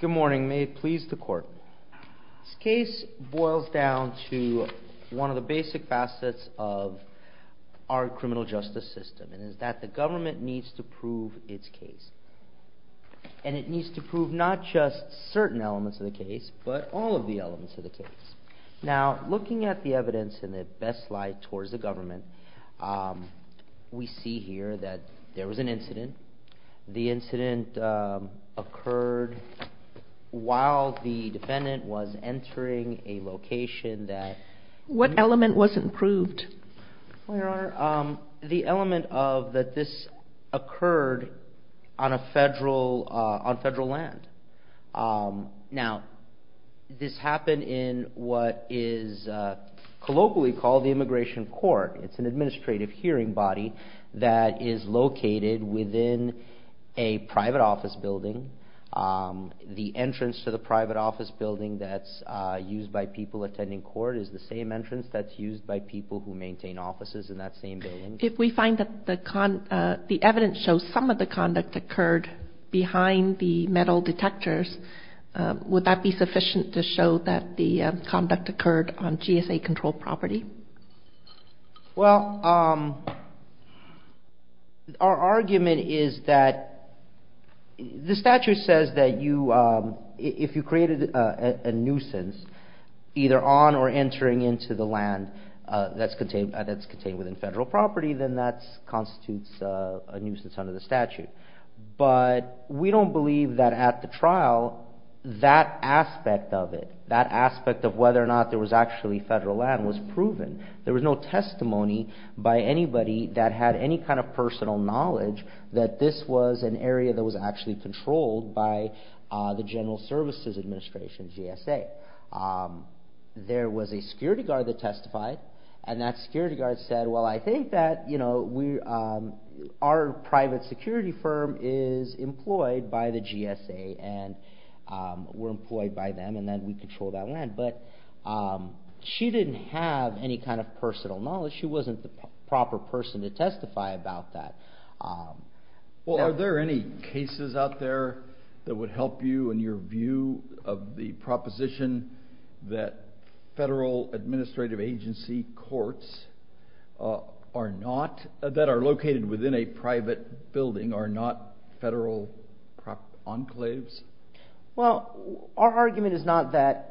Good morning. May it please the court. This case boils down to one of the basic facets of our criminal justice system, and it's that the government needs to prove its case. And it needs to prove not just certain elements of the case, but all of the elements of the case. Now, looking at the evidence in the best light towards the government, we see here that there was an incident. The incident occurred while the defendant was entering a location that... What element wasn't proved? The element of that this occurred on federal land. Now, this happened in what is colloquially called the Immigration Court. It's an administrative hearing body that is located within a private office building. The entrance to the private office building that's used by people attending court is the same entrance that's used by people who maintain offices in that same building. If we find that the evidence shows some of the conduct occurred behind the metal detectors, would that be sufficient to show that the conduct occurred on GSA-controlled property? Well, our argument is that the statute says that if you created a nuisance, either on or entering into the land that's contained within federal property, then that constitutes a nuisance under the statute. But we don't believe that at the trial, that aspect of it, that aspect of whether or not there was actually federal land was proven. There was no testimony by anybody that had any kind of personal knowledge that this was an area that was actually controlled by the General Services Administration, GSA. There was a security guard that testified, and that security guard said, well, I think that our private security firm is employed by the GSA, and we're employed by them, and then we control that land. But she didn't have any kind of personal knowledge. She wasn't the proper person to testify about that. Well, are there any cases out there that would help you in your view of the proposition that federal administrative agency courts that are located within a private building are not federal enclaves? Well, our argument is not that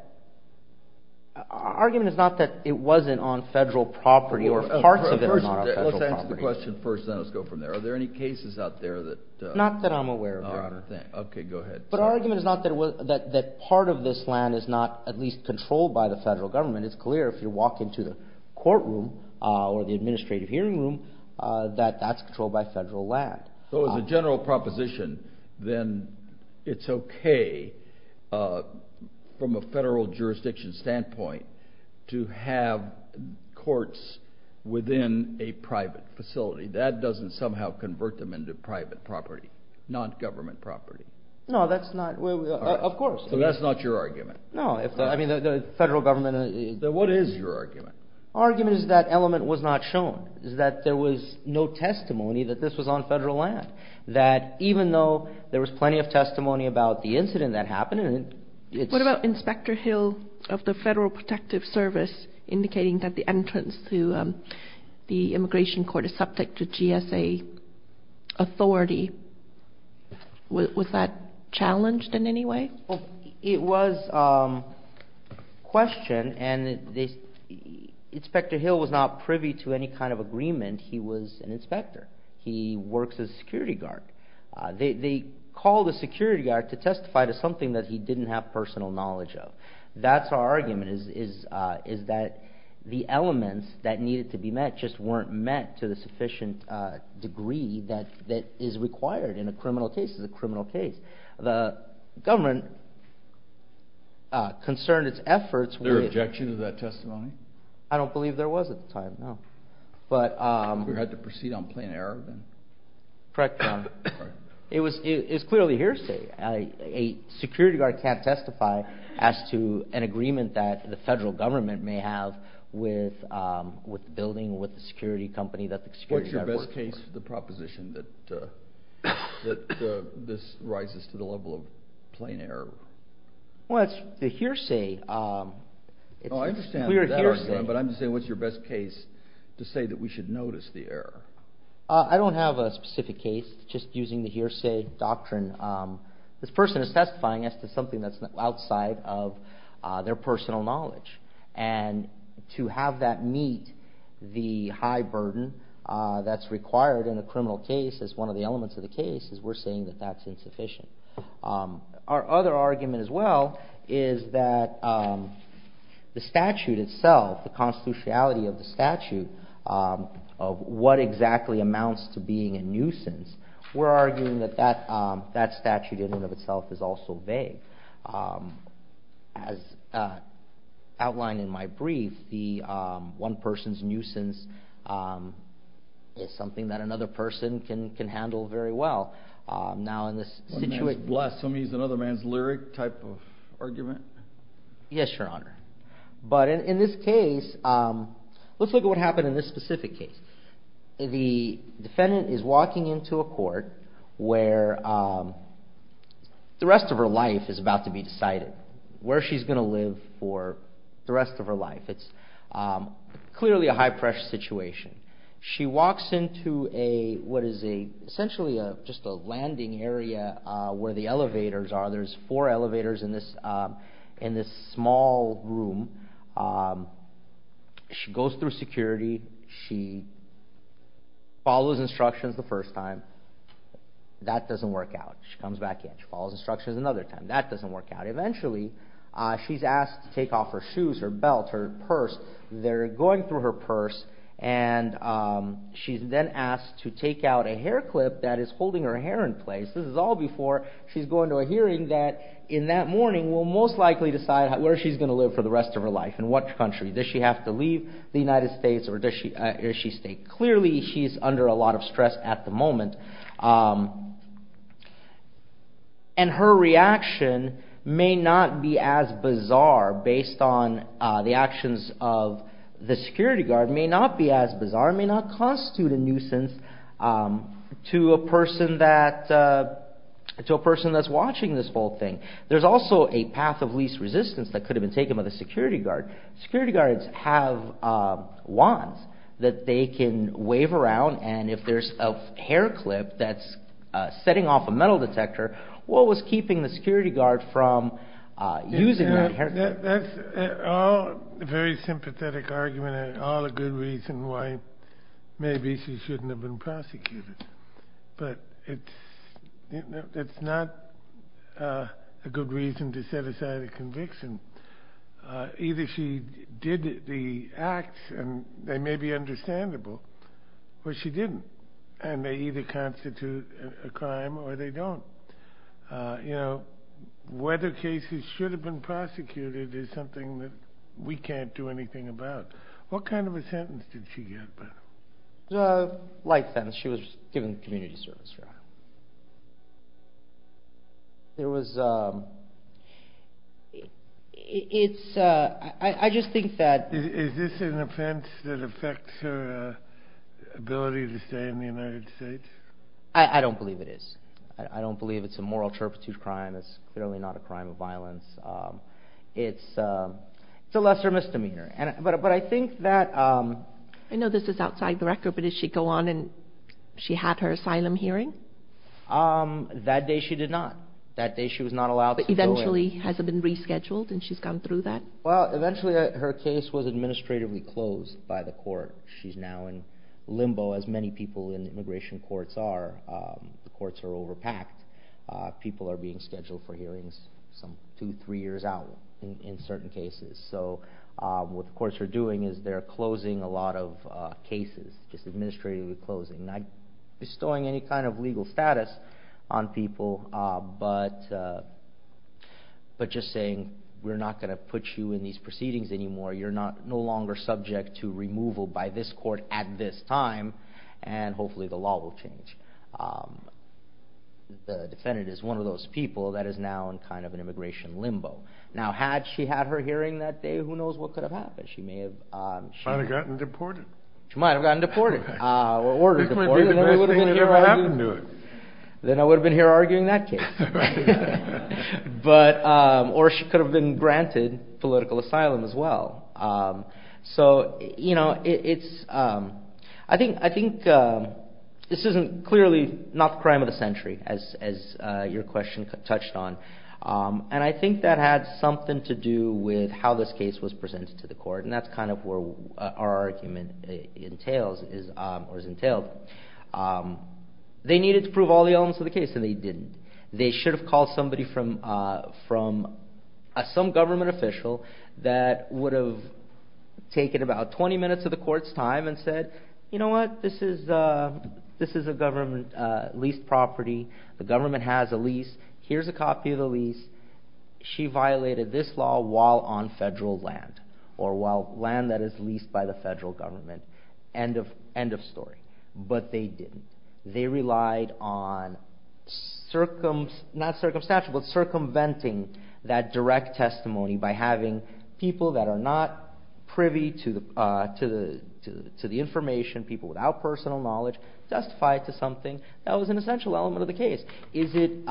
it wasn't on federal property, or parts of it are not federal property. Let's answer the question first, then let's go from there. Are there any cases out there that… Not that I'm aware of, Your Honor. Okay, go ahead. But our argument is not that part of this land is not at least controlled by the federal government. It's clear if you walk into the courtroom, or the administrative hearing room, that that's controlled by federal land. So as a general proposition, then it's okay from a federal jurisdiction standpoint to have courts within a private facility. That doesn't somehow convert them into private property, non-government property. No, that's not… Of course. So that's not your argument? No, I mean, the federal government… Then what is your argument? Our argument is that element was not shown, is that there was no testimony that this was on federal land. That even though there was plenty of testimony about the incident that happened… What about Inspector Hill of the Federal Protective Service indicating that the entrance to the immigration court is subject to GSA authority? Was that challenged in any way? Well, it was questioned, and Inspector Hill was not privy to any kind of agreement. He was an inspector. He works as a security guard. They called a security guard to testify to something that he didn't have personal knowledge of. That's our argument, is that the elements that needed to be met just weren't met to the sufficient degree that is required in a criminal case. The government concerned its efforts… There were objections to that testimony? I don't believe there was at the time, no. We had to proceed on plain error then? Correct, Your Honor. It was clearly hearsay. A security guard can't testify as to an agreement that the federal government may have with the building, with the security company that the security guard works for. What's the proposition that this rises to the level of plain error? Well, it's the hearsay. Oh, I understand that argument, but I'm just saying what's your best case to say that we should notice the error? I don't have a specific case. Just using the hearsay doctrine, this person is testifying as to something that's outside of their personal knowledge. And to have that meet the high burden that's required in a criminal case is one of the elements of the case, is we're saying that that's insufficient. Our other argument as well is that the statute itself, the constitutionality of the statute, of what exactly amounts to being a nuisance, we're arguing that that statute in and of itself is also vague. As outlined in my brief, the one person's nuisance is something that another person can handle very well. One man's blasphemy is another man's lyric type of argument? Yes, Your Honor. But in this case, let's look at what happened in this specific case. The defendant is walking into a court where the rest of her life is about to be decided, where she's going to live for the rest of her life. It's clearly a high pressure situation. She walks into what is essentially just a landing area where the elevators are. There's four elevators in this small room. She goes through security. She follows instructions the first time. That doesn't work out. She comes back in. She follows instructions another time. That doesn't work out. Eventually, she's asked to take off her shoes, her belt, her purse. They're going through her purse, and she's then asked to take out a hair clip that is holding her hair in place. This is all before she's going to a hearing that, in that morning, will most likely decide where she's going to live for the rest of her life, in what country. Does she have to leave the United States, or does she stay? Clearly, she's under a lot of stress at the moment. Her reaction may not be as bizarre, based on the actions of the security guard. It may not be as bizarre. It may not constitute a nuisance to a person that's watching this whole thing. There's also a path of least resistance that could have been taken by the security guard. Security guards have wands that they can wave around, and if there's a hair clip that's setting off a metal detector, what was keeping the security guard from using that hair clip? That's a very sympathetic argument, and all a good reason why maybe she shouldn't have been prosecuted. But it's not a good reason to set aside a conviction. Either she did the acts, and they may be understandable, or she didn't, and they either constitute a crime or they don't. Whether cases should have been prosecuted is something that we can't do anything about. What kind of a sentence did she get? A light sentence. She was given a community service trial. Is this an offense that affects her ability to stay in the United States? I don't believe it is. I don't believe it's a moral turpitude crime. It's clearly not a crime of violence. It's a lesser misdemeanor. I know this is outside the record, but did she go on and she had her asylum hearing? That day she did not. That day she was not allowed to go in. But eventually has it been rescheduled and she's gone through that? Well, eventually her case was administratively closed by the court. She's now in limbo, as many people in immigration courts are. The courts are overpacked. People are being scheduled for hearings two, three years out in certain cases. So what the courts are doing is they're closing a lot of cases. Just administratively closing. Not bestowing any kind of legal status on people, but just saying we're not going to put you in these proceedings anymore. You're no longer subject to removal by this court at this time, and hopefully the law will change. The defendant is one of those people that is now in kind of an immigration limbo. Now, had she had her hearing that day, who knows what could have happened? She might have gotten deported. She might have gotten deported or ordered deported, and then we would have been here arguing. Then I would have been here arguing that case. Or she could have been granted political asylum as well. So I think this is clearly not the crime of the century, as your question touched on. I think that had something to do with how this case was presented to the court, and that's kind of where our argument is entailed. They needed to prove all the elements of the case, and they didn't. They should have called somebody from some government official that would have taken about 20 minutes of the court's time and said, you know what, this is a government leased property. The government has a lease. Here's a copy of the lease. She violated this law while on federal land or while land that is leased by the federal government. End of story. But they didn't. They relied on circumventing that direct testimony by having people that are not privy to the information, people without personal knowledge, testify to something that was an essential element of the case. Is it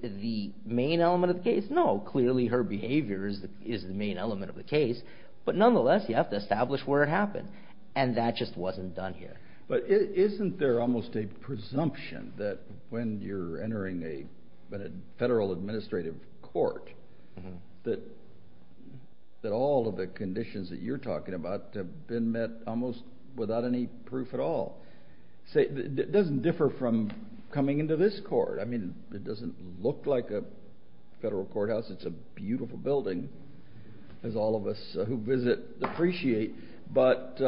the main element of the case? No. Clearly her behavior is the main element of the case, but nonetheless you have to establish where it happened, and that just wasn't done here. But isn't there almost a presumption that when you're entering a federal administrative court that all of the conditions that you're talking about have been met almost without any proof at all? It doesn't differ from coming into this court. I mean, it doesn't look like a federal courthouse. It's a beautiful building, as all of us who visit appreciate. But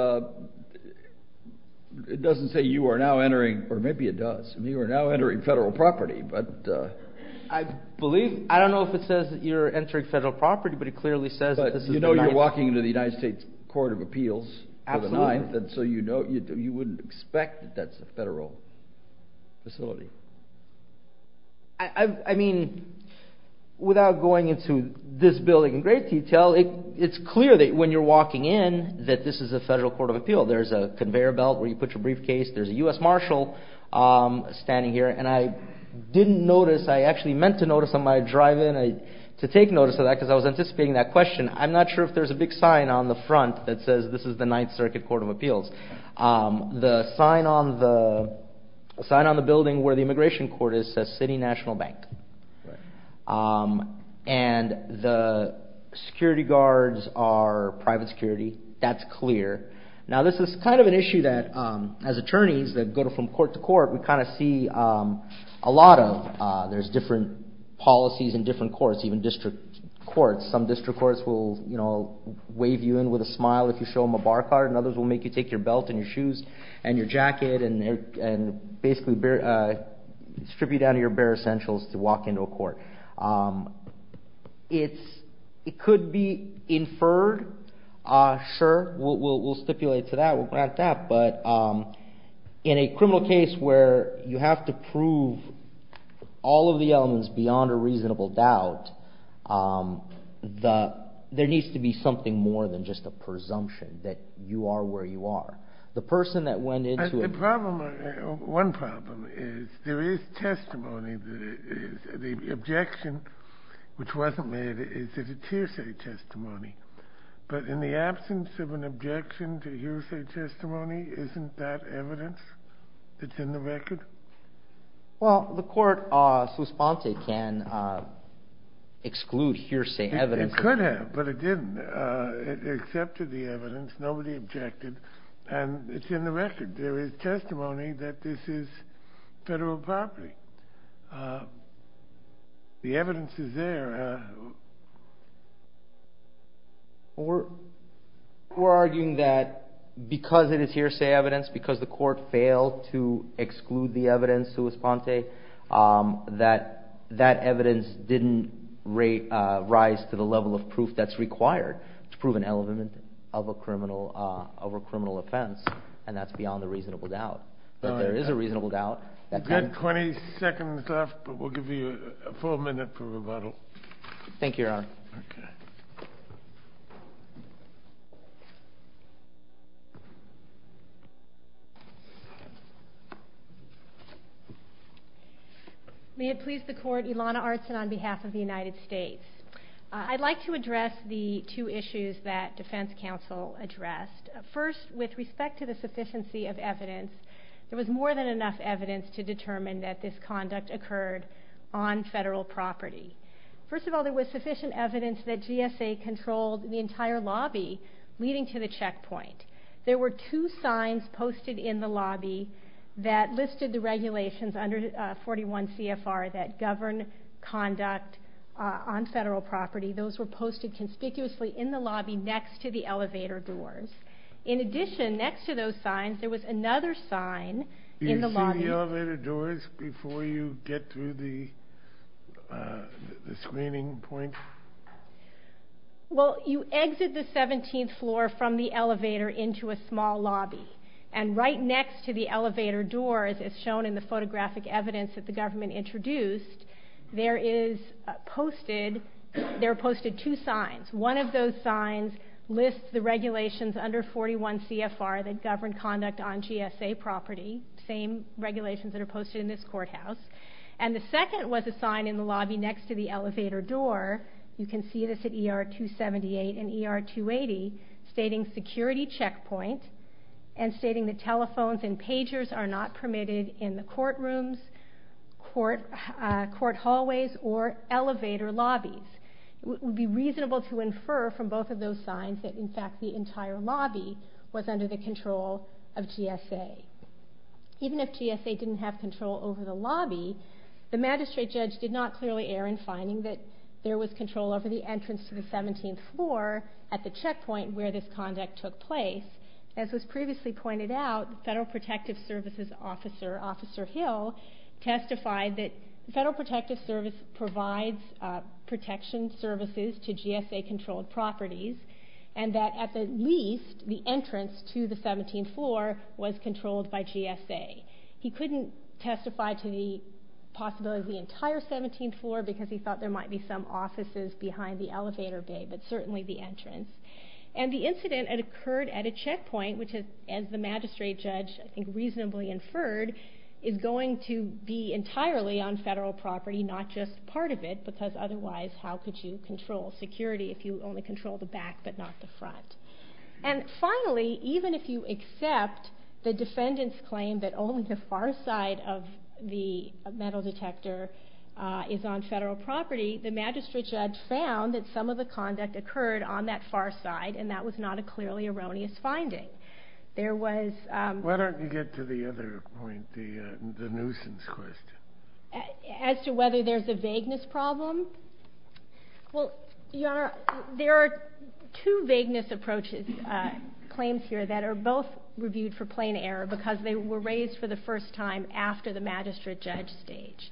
it doesn't say you are now entering, or maybe it does, you are now entering federal property. I believe, I don't know if it says that you're entering federal property, but it clearly says that this is the United States. But you know you're walking into the United States Court of Appeals for the 9th, so you wouldn't expect that that's a federal facility. I mean, without going into this building in great detail, it's clear that when you're walking in that this is a federal court of appeal. There's a conveyor belt where you put your briefcase, there's a U.S. Marshal standing here, and I didn't notice, I actually meant to notice on my drive in, to take notice of that because I was anticipating that question. I'm not sure if there's a big sign on the front that says this is the 9th Circuit Court of Appeals. The sign on the building where the immigration court is says City National Bank. And the security guards are private security. That's clear. Now this is kind of an issue that as attorneys that go from court to court, we kind of see a lot of. There's different policies in different courts, even district courts. Some district courts will wave you in with a smile if you show them a bar card, and others will make you take your belt and your shoes and your jacket and basically distribute out of your bare essentials to walk into a court. It could be inferred. Sure, we'll stipulate to that, we'll grant that, but in a criminal case where you have to prove all of the elements beyond a reasonable doubt, there needs to be something more than just a presumption that you are where you are. The person that went into it. The problem, one problem, is there is testimony. The objection, which wasn't made, is that it's hearsay testimony. But in the absence of an objection to hearsay testimony, isn't that evidence that's in the record? Well, the court, Suspense, can exclude hearsay evidence. It could have, but it didn't. It accepted the evidence. Nobody objected, and it's in the record. There is testimony that this is federal property. The evidence is there. We're arguing that because it is hearsay evidence, because the court failed to exclude the evidence, that evidence didn't rise to the level of proof that's required to prove an element of a criminal offense, and that's beyond a reasonable doubt. But there is a reasonable doubt. You've got 20 seconds left, but we'll give you a full minute for rebuttal. Thank you, Your Honor. Okay. May it please the court, Ilana Artson on behalf of the United States. I'd like to address the two issues that defense counsel addressed. First, with respect to the sufficiency of evidence, there was more than enough evidence to determine that this conduct occurred on federal property. First of all, there was sufficient evidence that GSA controlled the entire lobby leading to the checkpoint. There were two signs posted in the lobby that listed the regulations under 41 CFR that govern conduct on federal property. Those were posted conspicuously in the lobby next to the elevator doors. there was another sign in the lobby. Did you go through the elevator doors before you get through the screening point? Well, you exit the 17th floor from the elevator into a small lobby, and right next to the elevator doors, as shown in the photographic evidence that the government introduced, there are posted two signs. One of those signs lists the regulations under 41 CFR that govern conduct on GSA property, the same regulations that are posted in this courthouse. And the second was a sign in the lobby next to the elevator door. You can see this at ER 278 and ER 280, stating security checkpoint and stating that telephones and pagers are not permitted in the courtrooms, court hallways, or elevator lobbies. It would be reasonable to infer from both of those signs that, in fact, the entire lobby was under the control of GSA. Even if GSA didn't have control over the lobby, the magistrate judge did not clearly err in finding that there was control over the entrance to the 17th floor at the checkpoint where this conduct took place. As was previously pointed out, the Federal Protective Services Officer, Officer Hill, testified that the Federal Protective Service provides protection services to GSA-controlled properties, and that, at the least, the entrance to the 17th floor was controlled by GSA. He couldn't testify to the possibility of the entire 17th floor because he thought there might be some offices behind the elevator bay, but certainly the entrance. And the incident had occurred at a checkpoint, which, as the magistrate judge reasonably inferred, is going to be entirely on Federal property, not just part of it, because otherwise how could you control security if you only control the back but not the front? And finally, even if you accept the defendant's claim that only the far side of the metal detector is on Federal property, the magistrate judge found that some of the conduct occurred on that far side, and that was not a clearly erroneous finding. Why don't you get to the other point, the nuisance question? As to whether there's a vagueness problem? Well, Your Honor, there are two vagueness claims here that are both reviewed for plain error because they were raised for the first time after the magistrate judge stage.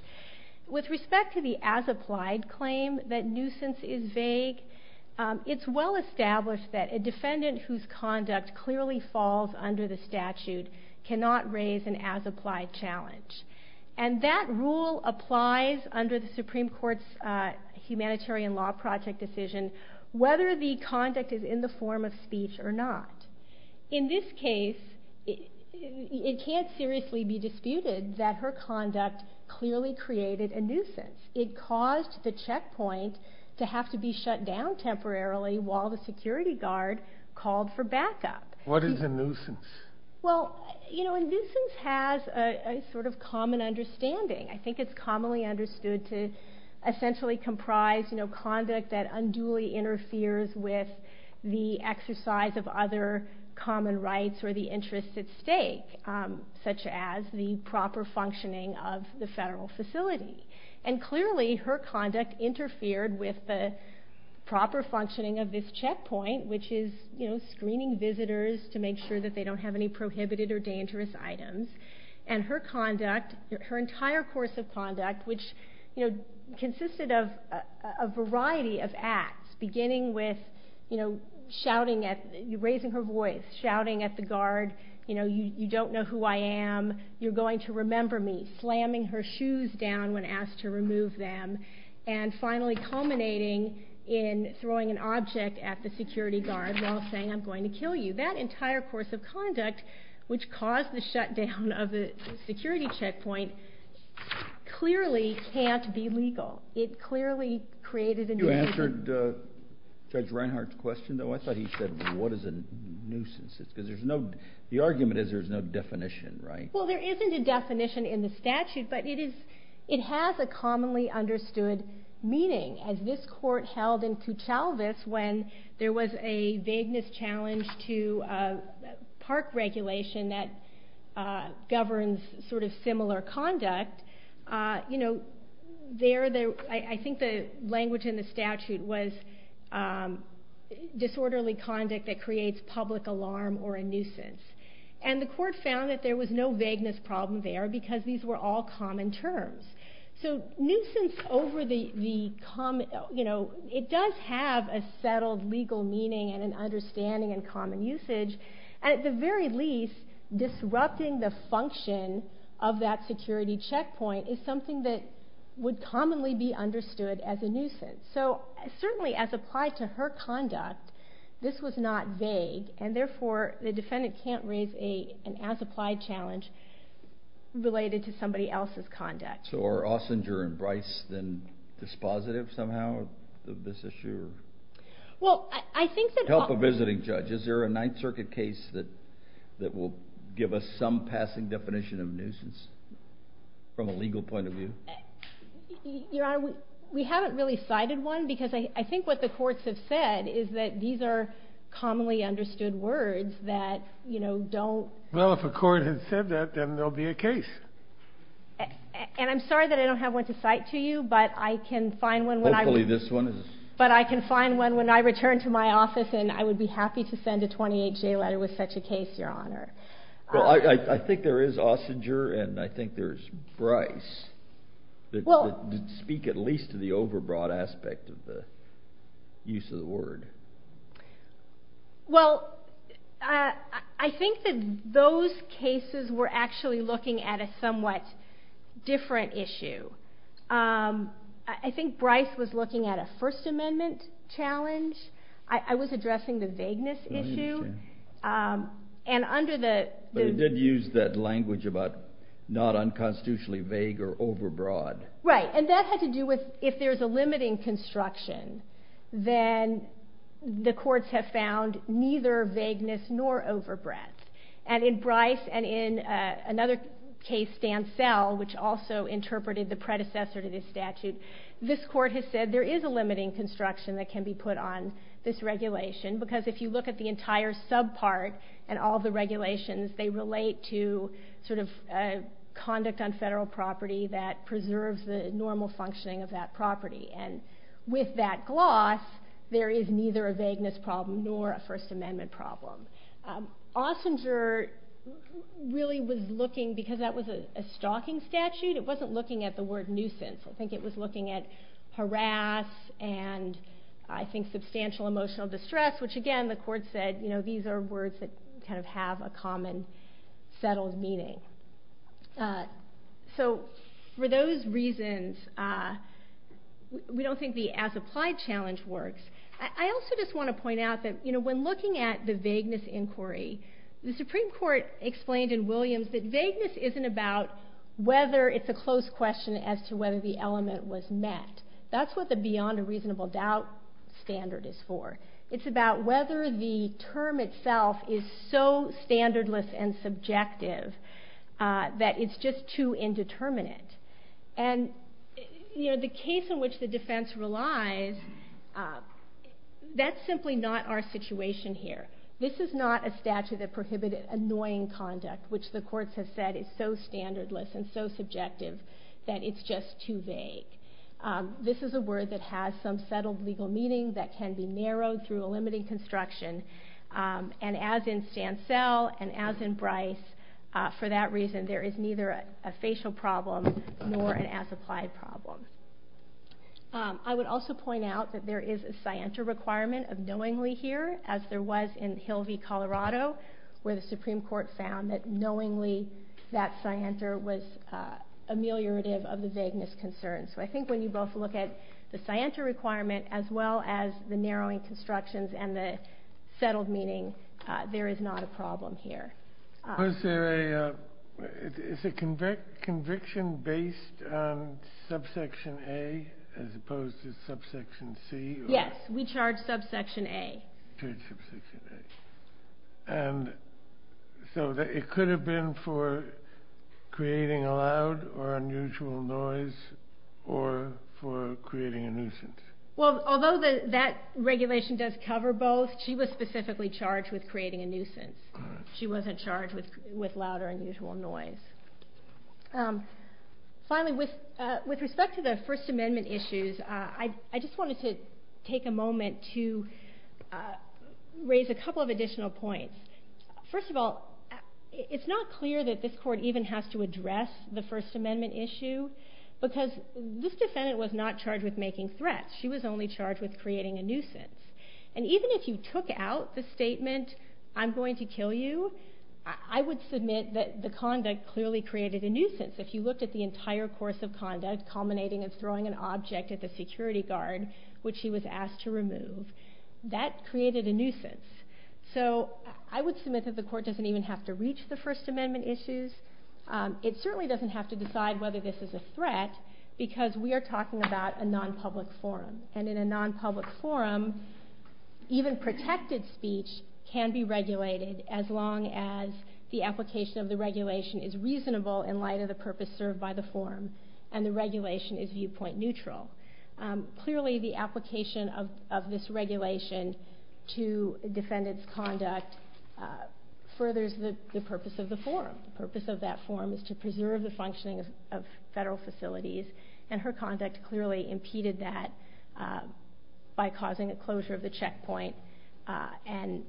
With respect to the as-applied claim that nuisance is vague, it's well established that a defendant whose conduct clearly falls under the statute cannot raise an as-applied challenge. And that rule applies under the Supreme Court's Humanitarian Law Project decision whether the conduct is in the form of speech or not. In this case, it can't seriously be disputed that her conduct clearly created a nuisance. It caused the checkpoint to have to be shut down temporarily while the security guard called for backup. What is a nuisance? Well, nuisance has a sort of common understanding. I think it's commonly understood to essentially comprise conduct that unduly interferes with the exercise of other common rights or the interests at stake, such as the proper functioning of the federal facility. And clearly, her conduct interfered with the proper functioning of this checkpoint, which is screening visitors to make sure that they don't have any prohibited or dangerous items. And her conduct, her entire course of conduct, which consisted of a variety of acts, beginning with raising her voice, shouting at the guard, you don't know who I am, you're going to remember me, slamming her shoes down when asked to remove them, and finally culminating in throwing an object at the security guard while saying, I'm going to kill you. That entire course of conduct, which caused the shutdown of the security checkpoint, clearly can't be legal. It clearly created a nuisance. You answered Judge Reinhart's question, though. I thought he said, what is a nuisance? The argument is there's no definition, right? Well, there isn't a definition in the statute, but it has a commonly understood meaning. As this court held in Kutalvis, when there was a vagueness challenge to park regulation that governs similar conduct, I think the language in the statute was disorderly conduct that creates public alarm or a nuisance. And the court found that there was no vagueness problem there because these were all common terms. So nuisance over the common... You know, it does have a settled legal meaning and an understanding and common usage. And at the very least, disrupting the function of that security checkpoint is something that would commonly be understood as a nuisance. So certainly as applied to her conduct, this was not vague, and therefore the defendant can't raise an as-applied challenge related to somebody else's conduct. So are Ossinger and Bryce then dispositive somehow of this issue? Well, I think that... Help a visiting judge. Is there a Ninth Circuit case that will give us some passing definition of nuisance from a legal point of view? Your Honor, we haven't really cited one because I think what the courts have said is that these are commonly understood words that, you know, don't... Well, if a court had said that, then there'll be a case. And I'm sorry that I don't have one to cite to you, but I can find one when I... Hopefully this one is... But I can find one when I return to my office and I would be happy to send a 28-J letter with such a case, Your Honor. Well, I think there is Ossinger and I think there's Bryce that speak at least to the overbroad aspect of the use of the word. Well, I think that those cases were actually looking at a somewhat different issue. I think Bryce was looking at a First Amendment challenge. I was addressing the vagueness issue. And under the... But it did use that language about not unconstitutionally vague or overbroad. Right, and that had to do with if there's a limiting construction, then the courts have found neither vagueness nor overbreadth. And in Bryce and in another case, Stansell, which also interpreted the predecessor to this statute, this court has said there is a limiting construction that can be put on this regulation because if you look at the entire subpart and all the regulations, they relate to sort of conduct on federal property that preserves the normal functioning of that property. And with that gloss, there is neither a vagueness problem nor a First Amendment problem. Ossinger really was looking, because that was a stalking statute, it wasn't looking at the word nuisance. I think it was looking at harass and I think substantial emotional distress, which again the court said, you know, these are words that kind of have a common settled meaning. So for those reasons, we don't think the as applied challenge works. I also just want to point out that when looking at the vagueness inquiry, the Supreme Court explained in Williams that vagueness isn't about whether it's a close question as to whether the element was met. That's what the beyond a reasonable doubt standard is for. It's about whether the term itself is so standardless and subjective that it's just too indeterminate. And, you know, the case in which the defense relies, that's simply not our situation here. This is not a statute that prohibited annoying conduct, which the courts have said is so standardless and so subjective that it's just too vague. This is a word that has some settled legal meaning that can be narrowed through a limiting construction. And as in Stansell and as in Bryce, for that reason, there is neither a facial problem nor an as applied problem. I would also point out that there is a scienter requirement of knowingly here, as there was in Hilvey, Colorado, where the Supreme Court found that knowingly that scienter was ameliorative of the vagueness concern. So I think when you both look at the scienter requirement as well as the narrowing constructions and the settled meaning, there is not a problem here. Was there a, is a conviction based on subsection A as opposed to subsection C? Yes, we charge subsection A. Charge subsection A. And so it could have been for creating a loud or unusual noise or for creating a nuisance? Well, although that regulation does cover both, she was specifically charged with creating a nuisance. She wasn't charged with louder unusual noise. Finally, with respect to the First Amendment issues, I just wanted to take a moment to raise a couple of additional points. First of all, it's not clear that this court even has to address the First Amendment issue because this defendant was not charged with making threats. She was only charged with creating a nuisance. And even if you took out the statement, I'm going to kill you, I would submit that the conduct clearly created a nuisance. If you looked at the entire course of conduct, culminating in throwing an object at the security guard, which she was asked to remove, that created a nuisance. So I would submit that the court doesn't even have to reach the First Amendment issues. It certainly doesn't have to decide whether this is a threat because we are talking about a non-public forum. And in a non-public forum, even protected speech can be regulated as long as the application of the regulation is reasonable in light of the purpose served by the forum and the regulation is viewpoint neutral. Clearly, the application of this regulation to defendant's conduct furthers the purpose of the forum. The purpose of that forum is to preserve the functioning of federal facilities and her conduct clearly impeded that by causing a closure of the checkpoint. And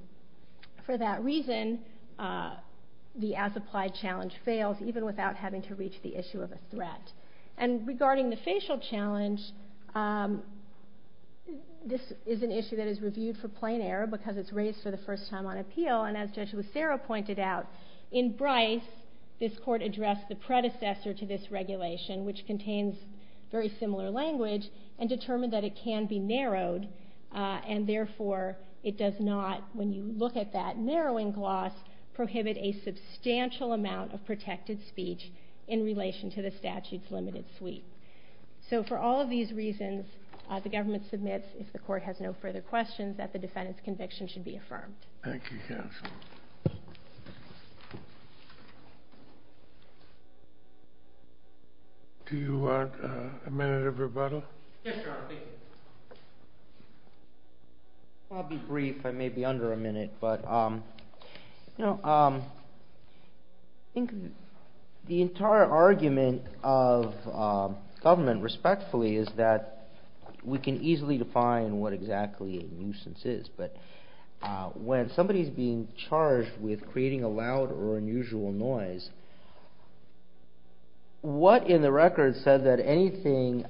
for that reason, the as-applied challenge fails even without having to reach the issue of a threat. And regarding the facial challenge, this is an issue that is reviewed for plain error because it's raised for the first time on appeal. And as Judge Lucero pointed out, in Bryce, this court addressed the predecessor to this regulation, which contains very similar language, and determined that it can be narrowed and therefore it does not, when you look at that narrowing gloss, prohibit a substantial amount of protected speech in relation to the statute's limited suite. So for all of these reasons, the government submits, if the court has no further questions, that the defendant's conviction should be affirmed. Thank you, counsel. Do you want a minute of rebuttal? Yes, Your Honor. I'll be brief. I may be under a minute. But I think the entire argument of government, respectfully, is that we can easily define what exactly a nuisance is. But when somebody's being charged with creating a loud or unusual noise, what in the record said that anything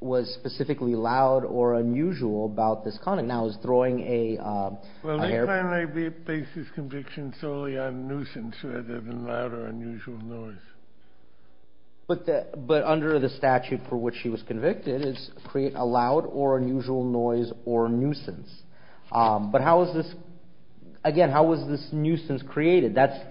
was specifically loud or unusual about this conduct? Well, the primary basis conviction is solely on nuisance rather than loud or unusual noise. But under the statute for which she was convicted, it's create a loud or unusual noise or nuisance. But again, how was this nuisance created? That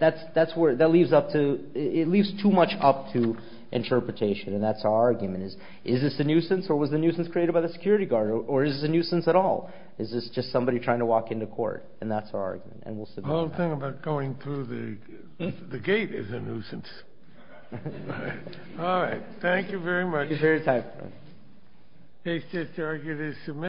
leaves too much up to interpretation, and that's our argument. Is this a nuisance, or was the nuisance created by the security guard, or is this a nuisance at all? Is this just somebody trying to walk into court? And that's our argument, and we'll submit that. The whole thing about going through the gate is a nuisance. All right. Thank you very much. Thank you for your time.